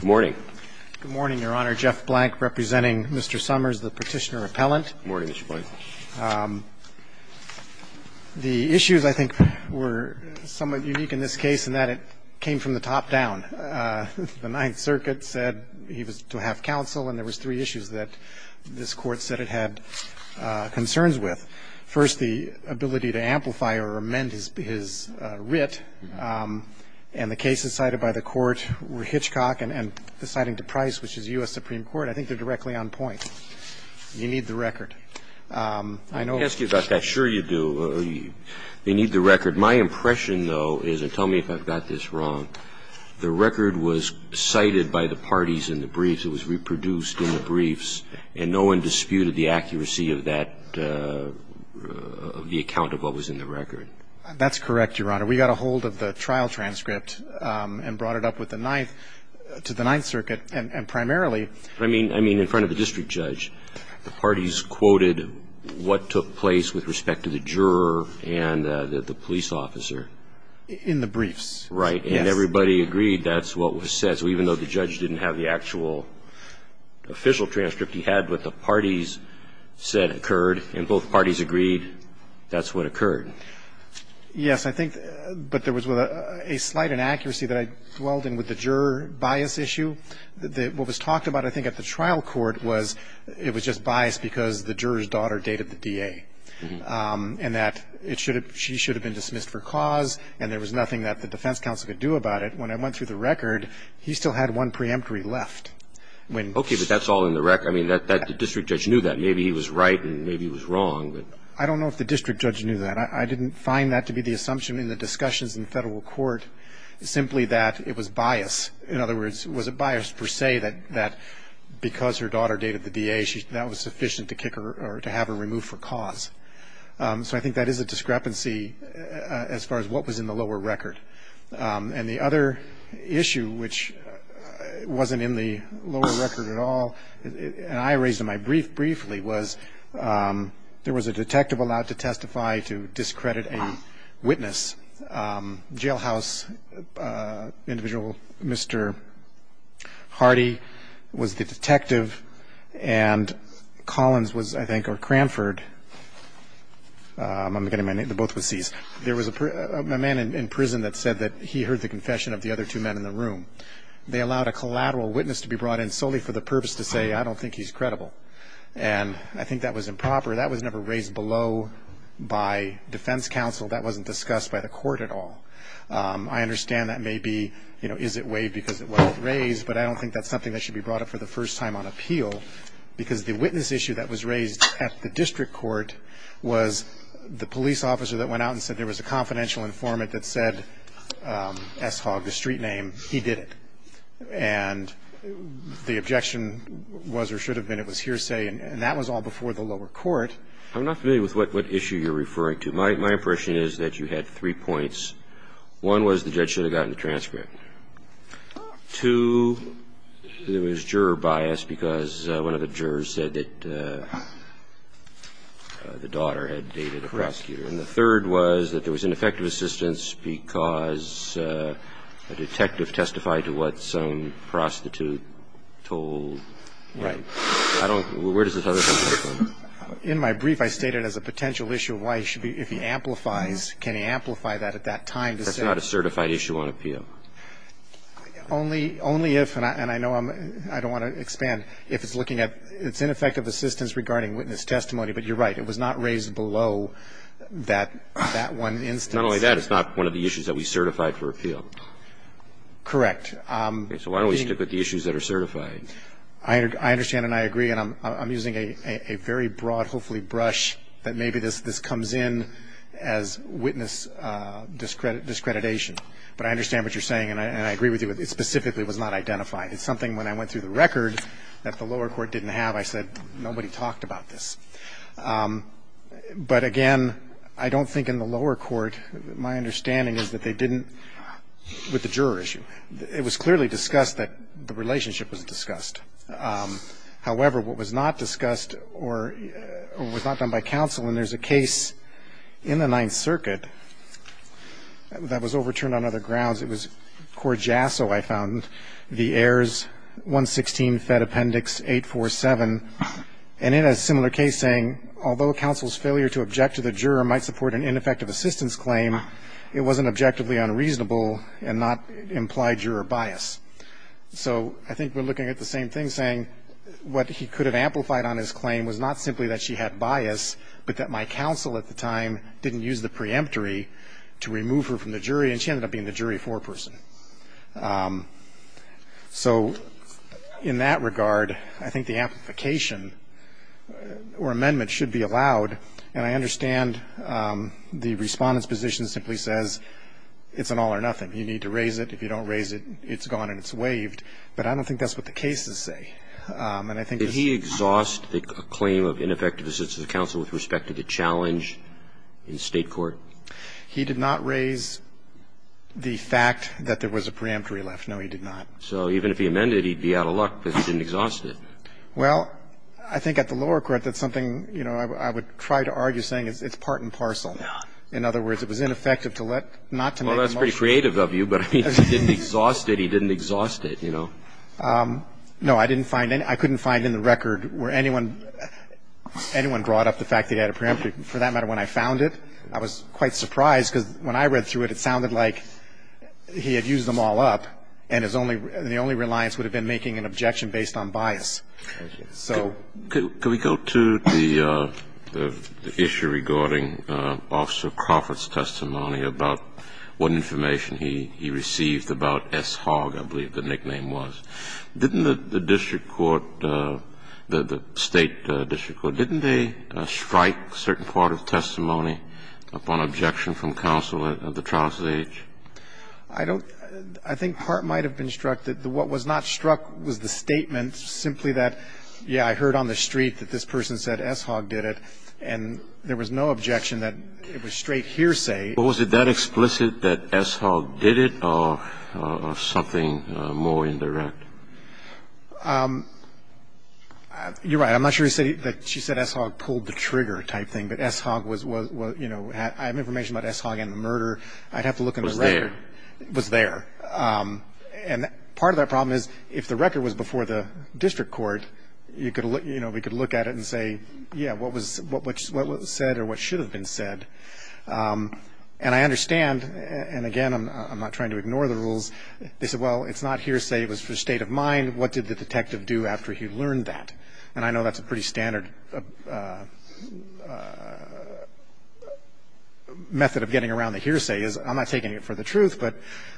Good morning, Your Honor. Jeff Blank representing Mr. Summers, the Petitioner-Appellant. Good morning, Mr. Blank. The issues, I think, were somewhat unique in this case in that it came from the top down. The Ninth Circuit said he was to have counsel, and there was three issues that this Court said it had concerns with. First, the ability to amplify or amend his writ, and the cases cited by the Court were Hitchcock and the citing to Price, which is U.S. Supreme Court. I think they're directly on point. You need the record. I know- Let me ask you about that. Sure you do. They need the record. My impression, though, is, and tell me if I've got this wrong, the record was cited by the parties in the briefs. It was reproduced in the briefs, and no one disputed the accuracy of that, of the account of what was in the record. That's correct, Your Honor. We got a hold of the trial transcript and brought it up with the Ninth, to the Ninth Circuit, and primarily- I mean, in front of the district judge. The parties quoted what took place with respect to the juror and the police officer. In the briefs. Right. And everybody agreed that's what was said. So even though the judge didn't have the actual official transcript, he had what the parties said occurred, and both parties agreed that's what occurred. Yes, I think, but there was a slight inaccuracy that I dwelled in with the juror bias issue. What was talked about, I think, at the trial court was it was just bias because the juror's daughter dated the DA, and that it should have been dismissed for cause, and there was nothing that the defense counsel could do about it. When I went through the record, he still had one preemptory left. Okay, but that's all in the record. I mean, the district judge knew that. Maybe he was right, and maybe he was wrong. I don't know if the district judge knew that. I didn't find that to be the assumption in the discussions in federal court, simply that it was bias. In other words, was it bias per se that because her daughter dated the DA, that was sufficient to kick her or to have her removed for cause? So I think that is a discrepancy as far as what was in the lower record. And the other issue, which wasn't in the lower record at all, and I raised in my brief briefly, was there was a detective allowed to testify to discredit a witness. Jailhouse individual, Mr. Hardy, was the detective, and Collins was, I think, or Cranford, I'm getting my name, they're both with Cs. There was a man in prison that said that he heard the confession of the other two men in the room. They allowed a collateral witness to be brought in solely for the purpose to say, I don't think he's credible, and I think that was improper. That was never raised below by defense counsel. That wasn't discussed by the court at all. I understand that may be, you know, is it way because it wasn't raised, but I don't think that's something that should be brought up for the first time on appeal. Because the witness issue that was raised at the district court was the police officer that went out and said there was a confidential informant that said S-Hog, the street name, he did it. And the objection was or should have been it was hearsay, and that was all before the lower court. I'm not familiar with what issue you're referring to. My impression is that you had three points. One was the judge should have gotten the transcript. Two, there was juror bias because one of the jurors said that the daughter had dated a prosecutor. And the third was that there was ineffective assistance because a detective testified to what some prostitute told. Right. I don't – where does this other thing come from? In my brief, I state it as a potential issue of why he should be – if he amplifies, can he amplify that at that time to say – That's not a certified issue on appeal. Only if – and I know I'm – I don't want to expand. If it's looking at – it's ineffective assistance regarding witness testimony, but you're right. It was not raised below that one instance. Not only that, it's not one of the issues that we certified for appeal. Correct. So why don't we stick with the issues that are certified? I understand and I agree, and I'm using a very broad, hopefully, brush that maybe this comes in as witness discreditation. But I understand what you're saying and I agree with you. It specifically was not identified. It's something when I went through the record that the lower court didn't have, I said nobody talked about this. But again, I don't think in the lower court, my understanding is that they didn't – with the juror issue. It was clearly discussed that the relationship was discussed. However, what was not discussed or was not done by counsel, and there's a case in the Ninth Circuit that was overturned on other grounds. It was Court Jasso, I found, the heirs, 116, Fed Appendix 847. And in a similar case saying, although counsel's failure to object to the juror might support an ineffective assistance claim, it wasn't objectively unreasonable and not implied juror bias. So I think we're looking at the same thing, saying what he could have amplified on his claim was not simply that she had bias, but that my counsel at the time didn't use the preemptory to remove her from the jury and she ended up being the jury foreperson. So in that regard, I think the amplification or amendment should be allowed. And I understand the Respondent's position simply says it's an all or nothing. You need to raise it. If you don't raise it, it's gone and it's waived. But I don't think that's what the cases say. And I think it's – Roberts, did he exhaust a claim of ineffective assistance of counsel with respect to the challenge in State court? He did not raise the fact that there was a preemptory left. No, he did not. So even if he amended it, he'd be out of luck because he didn't exhaust it. Well, I think at the lower court, that's something, you know, I would try to argue saying it's part and parcel. In other words, it was ineffective to let – not to make a motion. Well, that's pretty creative of you, but I mean, if he didn't exhaust it, he didn't exhaust it, you know. No, I didn't find any – I couldn't find in the record where anyone – anyone brought up the fact that he had a preemptory. For that matter, when I found it, I was quite surprised because when I read through it, it sounded like he had used them all up and his only – the only reliance would have been making an objection based on bias. So – Could we go to the issue regarding Officer Crawford's testimony about what information he received about S. Hogg, I believe the nickname was. Didn't the district court, the State district court, didn't they strike a certain part of testimony upon objection from counsel at the trial stage? I don't – I think part might have been struck that what was not struck was the statement simply that, yeah, I heard on the street that this person said S. Hogg did it, and there was no objection that it was straight hearsay. Was it that explicit that S. Hogg did it or something more indirect? You're right. I'm not sure he said – she said S. Hogg pulled the trigger type thing, but S. Hogg was – you know, I have information about S. Hogg and the murder. I'd have to look in the record. It was there. It was there. And part of that problem is if the record was before the district court, you could – you know, we could look at it and say, yeah, what was – what was said or what should have been said. And I understand – and, again, I'm not trying to ignore the rules. They said, well, it's not hearsay. It was for state of mind. What did the detective do after he learned that? And I know that's a pretty standard method of getting around the hearsay is I'm not taking it for the truth. But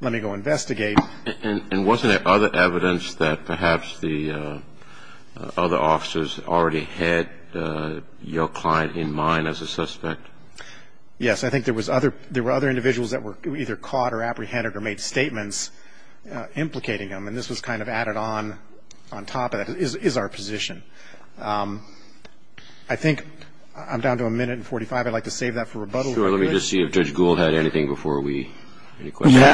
let me go investigate. And wasn't there other evidence that perhaps the other officers already had your client in mind as a suspect? Yes. I think there was other – there were other individuals that were either caught or apprehended or made statements implicating them. And this was kind of added on on top of that is our position. I think I'm down to a minute and 45. I'd like to save that for rebuttal. Let me just see if Judge Gould had anything before we – any questions? I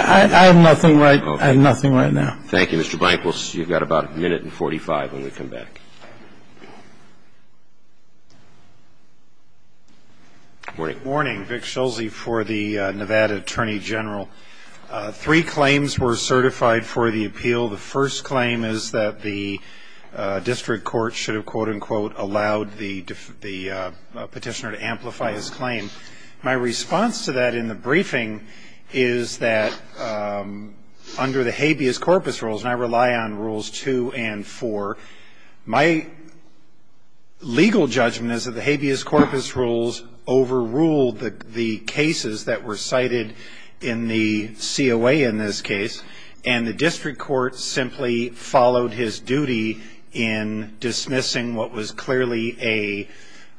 have nothing right – I have nothing right now. Thank you, Mr. Blank. You've got about a minute and 45 when we come back. Morning. Morning. Vic Schulze for the Nevada Attorney General. Three claims were certified for the appeal. The first claim is that the district court should have, quote, unquote, allowed the petitioner to amplify his claim. My response to that in the briefing is that under the habeas corpus rules, and I rely on Rules 2 and 4, my legal judgment is that the habeas corpus rules overruled the cases that were cited in the COA in this case. And the district court simply followed his duty in dismissing what was clearly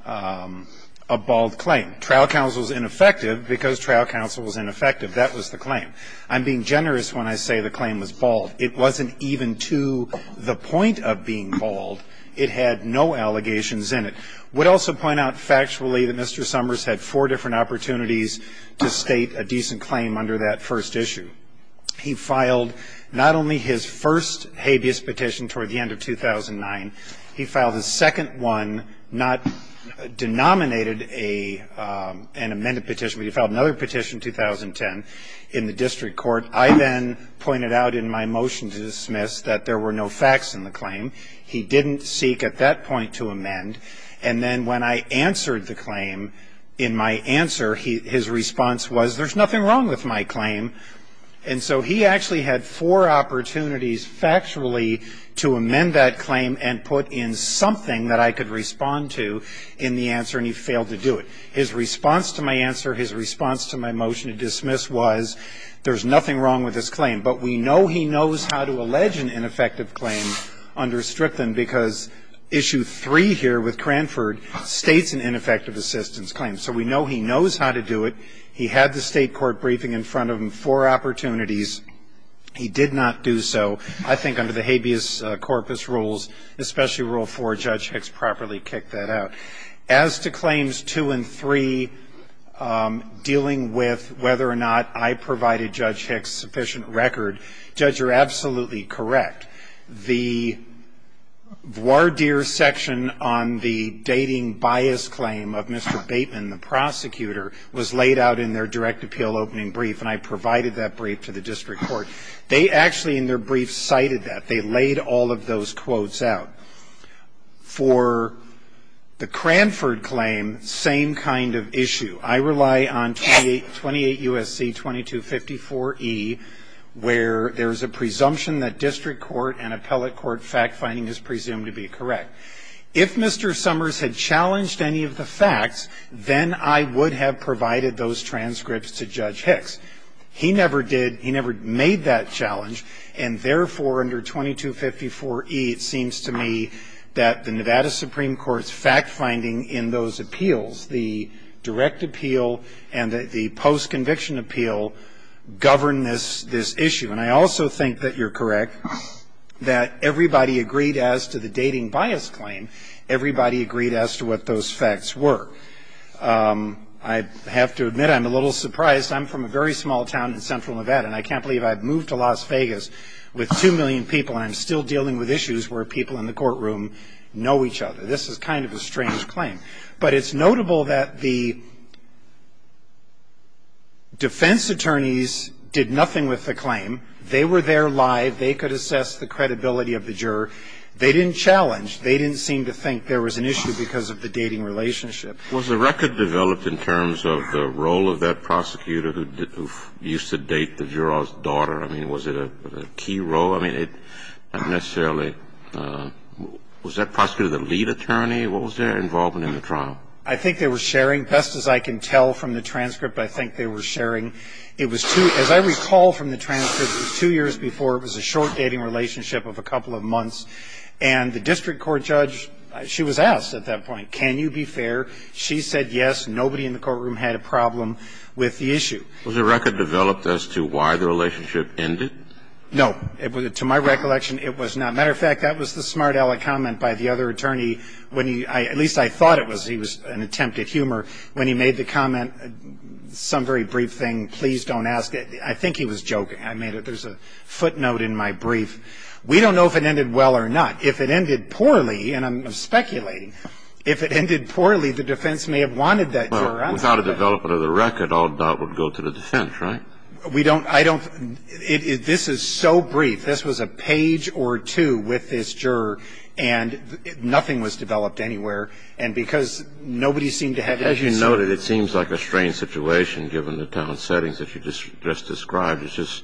a bald claim. Trial counsel is ineffective because trial counsel was ineffective. That was the claim. I'm being generous when I say the claim was bald. It wasn't even to the point of being bald. It had no allegations in it. I would also point out factually that Mr. Summers had four different opportunities to state a decent claim under that first issue. He filed not only his first habeas petition toward the end of 2009, he filed a second one, not denominated an amended petition, but he filed another petition in 2010 in the district court. I then pointed out in my motion to dismiss that there were no facts in the claim. He didn't seek at that point to amend. And then when I answered the claim, in my answer, his response was, there's nothing wrong with my claim. And so he actually had four opportunities factually to amend that claim and put in something that I could respond to in the answer, and he failed to do it. His response to my answer, his response to my motion to dismiss was, there's nothing wrong with this claim. But we know he knows how to allege an ineffective claim under Strypton because Issue 3 here with Cranford states an ineffective assistance claim. So we know he knows how to do it. He had the state court briefing in front of him, four opportunities. He did not do so. I think under the habeas corpus rules, especially Rule 4, Judge Hicks properly kicked that out. As to Claims 2 and 3, dealing with whether or not I provided Judge Hicks sufficient record, Judge, you're absolutely correct. The voir dire section on the dating bias claim of Mr. Bateman, the prosecutor, was laid out in their direct appeal opening brief, and I provided that brief to the district court. They actually in their brief cited that. They laid all of those quotes out. For the Cranford claim, same kind of issue. I rely on 28 U.S.C. 2254e, where there's a presumption that district court and appellate court fact-finding is presumed to be correct. If Mr. Summers had challenged any of the facts, then I would have provided those transcripts to Judge Hicks. He never did. He never made that challenge. And therefore, under 2254e, it seems to me that the Nevada Supreme Court's fact-finding in those appeals, the direct appeal and the post-conviction appeal, govern this issue. And I also think that you're correct that everybody agreed as to the dating bias claim, everybody agreed as to what those facts were. I have to admit I'm a little surprised. I'm from a very small town in central Nevada, and I can't believe I've moved to Las Vegas with 2 million people, and I'm still dealing with issues where people in the courtroom know each other. This is kind of a strange claim. But it's notable that the defense attorneys did nothing with the claim. They were there live. They could assess the credibility of the juror. They didn't challenge. They didn't seem to think there was an issue because of the dating relationship. Was the record developed in terms of the role of that prosecutor who used to date the juror's daughter? I mean, was it a key role? I mean, not necessarily. Was that prosecutor the lead attorney? What was their involvement in the trial? I think they were sharing. Best as I can tell from the transcript, I think they were sharing. It was two, as I recall from the transcript, it was two years before. It was a short dating relationship of a couple of months. And the district court judge, she was asked at that point, can you be fair? She said yes. Nobody in the courtroom had a problem with the issue. Was the record developed as to why the relationship ended? No. To my recollection, it was not. As a matter of fact, that was the smart aleck comment by the other attorney. At least I thought it was. He was an attempt at humor when he made the comment, some very brief thing, please don't ask it. I think he was joking. I made it. There's a footnote in my brief. We don't know if it ended well or not. If it ended poorly, and I'm speculating, if it ended poorly, the defense may have wanted that juror. Without a development of the record, all doubt would go to the defense, right? We don't, I don't, this is so brief. This was a page or two with this juror, and nothing was developed anywhere. And because nobody seemed to have any concern. As you noted, it seems like a strange situation given the town settings that you just described. It's just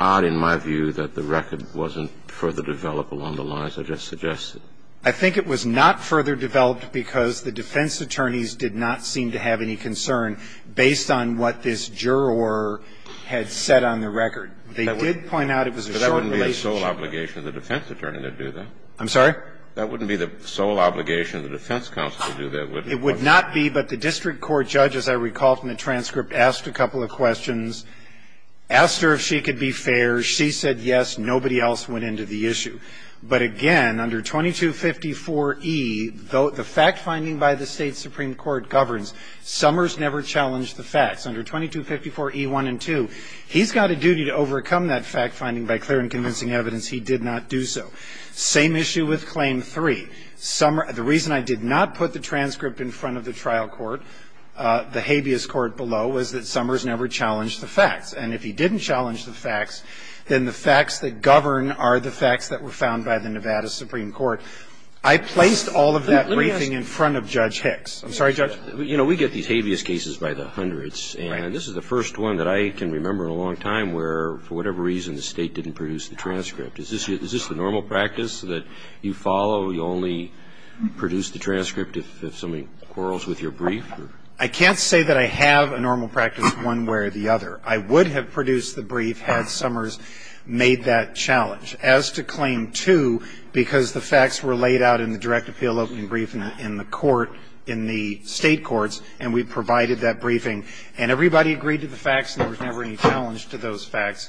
odd in my view that the record wasn't further developed along the lines I just suggested. I think it was not further developed because the defense attorneys did not seem to have any concern based on what this juror had said on the record. They did point out it was a short relationship. But that wouldn't be the sole obligation of the defense attorney to do that. I'm sorry? That wouldn't be the sole obligation of the defense counsel to do that, would it? It would not be, but the district court judge, as I recall from the transcript, asked a couple of questions, asked her if she could be fair. She said yes. Nobody else went into the issue. But again, under 2254e, the fact finding by the State supreme court governs, Summers never challenged the facts. Under 2254e1 and 2, he's got a duty to overcome that fact finding by clear and convincing evidence. He did not do so. Same issue with Claim 3. The reason I did not put the transcript in front of the trial court, the habeas court below, was that Summers never challenged the facts. And if he didn't challenge the facts, then the facts that govern are the facts that were found by the Nevada supreme court. I placed all of that briefing in front of Judge Hicks. I'm sorry, Judge? You know, we get these habeas cases by the hundreds. Right. And this is the first one that I can remember in a long time where, for whatever reason, the State didn't produce the transcript. Is this the normal practice that you follow? You only produce the transcript if somebody quarrels with your brief? I can't say that I have a normal practice one way or the other. I would have produced the brief had Summers made that challenge. As to Claim 2, because the facts were laid out in the direct appeal opening brief in the court, in the State courts, and we provided that briefing, and everybody agreed to the facts and there was never any challenge to those facts,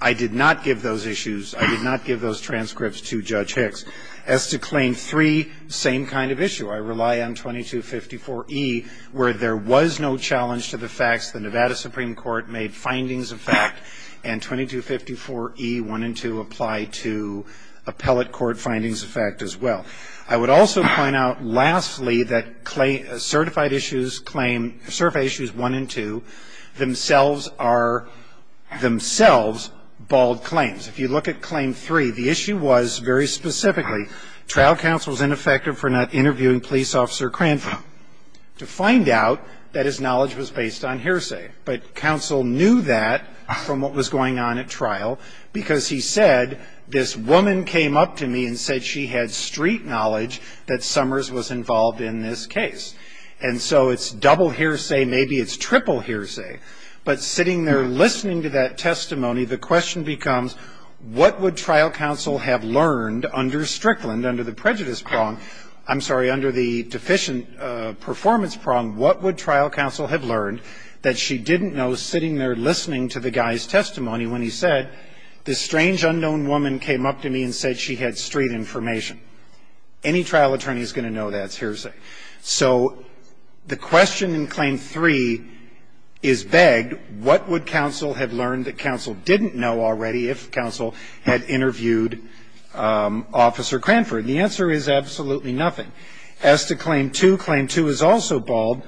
I did not give those issues. I did not give those transcripts to Judge Hicks. As to Claim 3, same kind of issue. I rely on 2254E where there was no challenge to the facts. The Nevada supreme court made findings of fact. And 2254E1 and 2 apply to appellate court findings of fact as well. I would also point out, lastly, that certified issues 1 and 2 themselves are themselves bald claims. If you look at Claim 3, the issue was very specifically, trial counsel is ineffective for not interviewing police officer Crantham to find out that his knowledge was based on hearsay. But counsel knew that from what was going on at trial because he said, this woman came up to me and said she had street knowledge that Summers was involved in this case. And so it's double hearsay, maybe it's triple hearsay. But sitting there listening to that testimony, the question becomes, what would trial counsel have learned under Strickland, under the prejudice prong, I'm sorry, under the deficient performance prong, what would trial counsel have learned that she didn't know sitting there listening to the guy's testimony when he said, this strange unknown woman came up to me and said she had street information? Any trial attorney is going to know that's hearsay. So the question in Claim 3 is begged, what would counsel have learned that counsel didn't know already if counsel had interviewed Officer Cranford? The answer is absolutely nothing. As to Claim 2, Claim 2 is also bald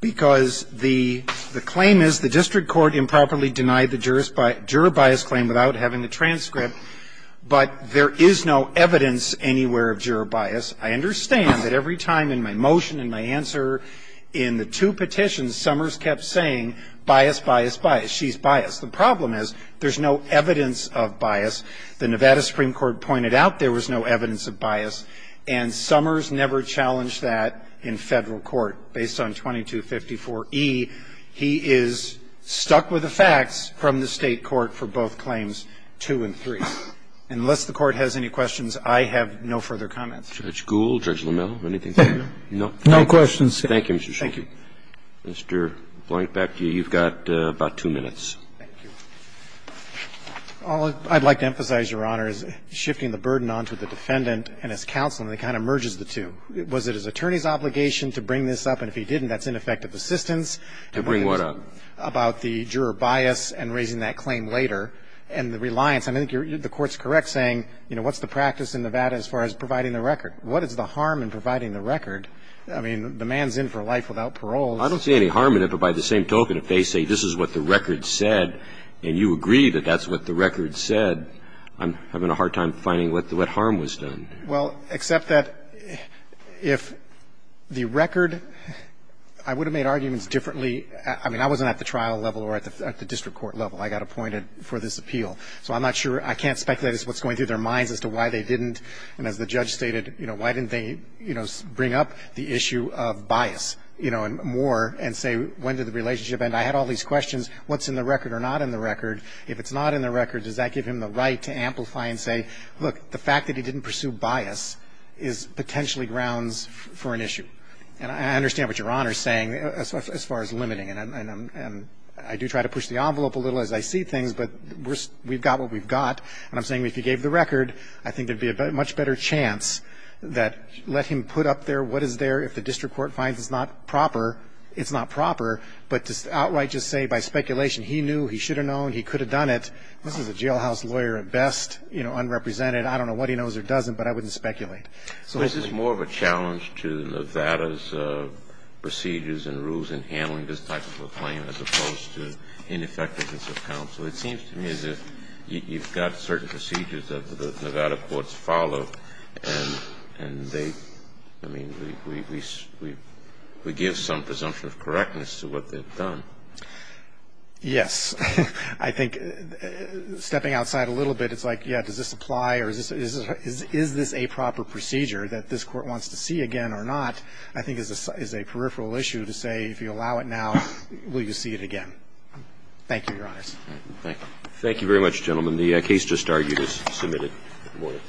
because the claim is the district court improperly claim without having the transcript. But there is no evidence anywhere of juror bias. I understand that every time in my motion and my answer in the two petitions, Summers kept saying bias, bias, bias, she's biased. The problem is there's no evidence of bias. The Nevada Supreme Court pointed out there was no evidence of bias, and Summers never challenged that in federal court. So I would say that the state court, based on 2254E, he is stuck with the facts from the state court for both Claims 2 and 3. Unless the court has any questions, I have no further comments. George Gould, Judge LeMille, anything? No. No questions. Thank you, Mr. Schultz. Thank you. Mr. Blankbeck, you've got about two minutes. All I'd like to emphasize, Your Honor, is shifting the burden on to the defendant and his counsel, and it kind of merges the two. the defense has a duty to bring this up. Was it his attorney's obligation to bring this up? And if he didn't, that's ineffective assistance. To bring what up? About the juror bias and raising that claim later, and the reliance. I think the Court's correct saying, you know, what's the practice in Nevada as far as providing the record? What is the harm in providing the record? I mean, the man's in for life without parole. I don't see any harm in it, but by the same token, if they say this is what the record said, and you agree that that's what the record said, I'm having a hard time finding what harm was done. Well, except that if the record, I would have made arguments differently. I mean, I wasn't at the trial level or at the district court level. I got appointed for this appeal. So I'm not sure. I can't speculate as to what's going through their minds as to why they didn't. And as the judge stated, you know, why didn't they, you know, bring up the issue of bias, you know, and more, and say when did the relationship end? I had all these questions. What's in the record or not in the record? If it's not in the record, does that give him the right to amplify and say, look, the fact that he didn't pursue bias is potentially grounds for an issue? And I understand what Your Honor is saying as far as limiting, and I do try to push the envelope a little as I see things, but we've got what we've got. And I'm saying if he gave the record, I think there would be a much better chance that let him put up there what is there. If the district court finds it's not proper, it's not proper. But to outright just say by speculation he knew, he should have known, he could have done it, this is a jailhouse lawyer at best, you know, unrepresented. I don't know what he knows or doesn't, but I wouldn't speculate. So this is more of a challenge to Nevada's procedures and rules in handling this type of a claim as opposed to ineffectiveness of counsel. It seems to me as if you've got certain procedures that the Nevada courts follow and they, I mean, we give some presumption of correctness to what they've done. Yes. I think stepping outside a little bit, it's like, yeah, does this apply or is this a proper procedure that this Court wants to see again or not, I think is a peripheral issue to say if you allow it now, will you see it again. Thank you, Your Honors. Thank you. Thank you very much, gentlemen. The case just argued is submitted. Thank you.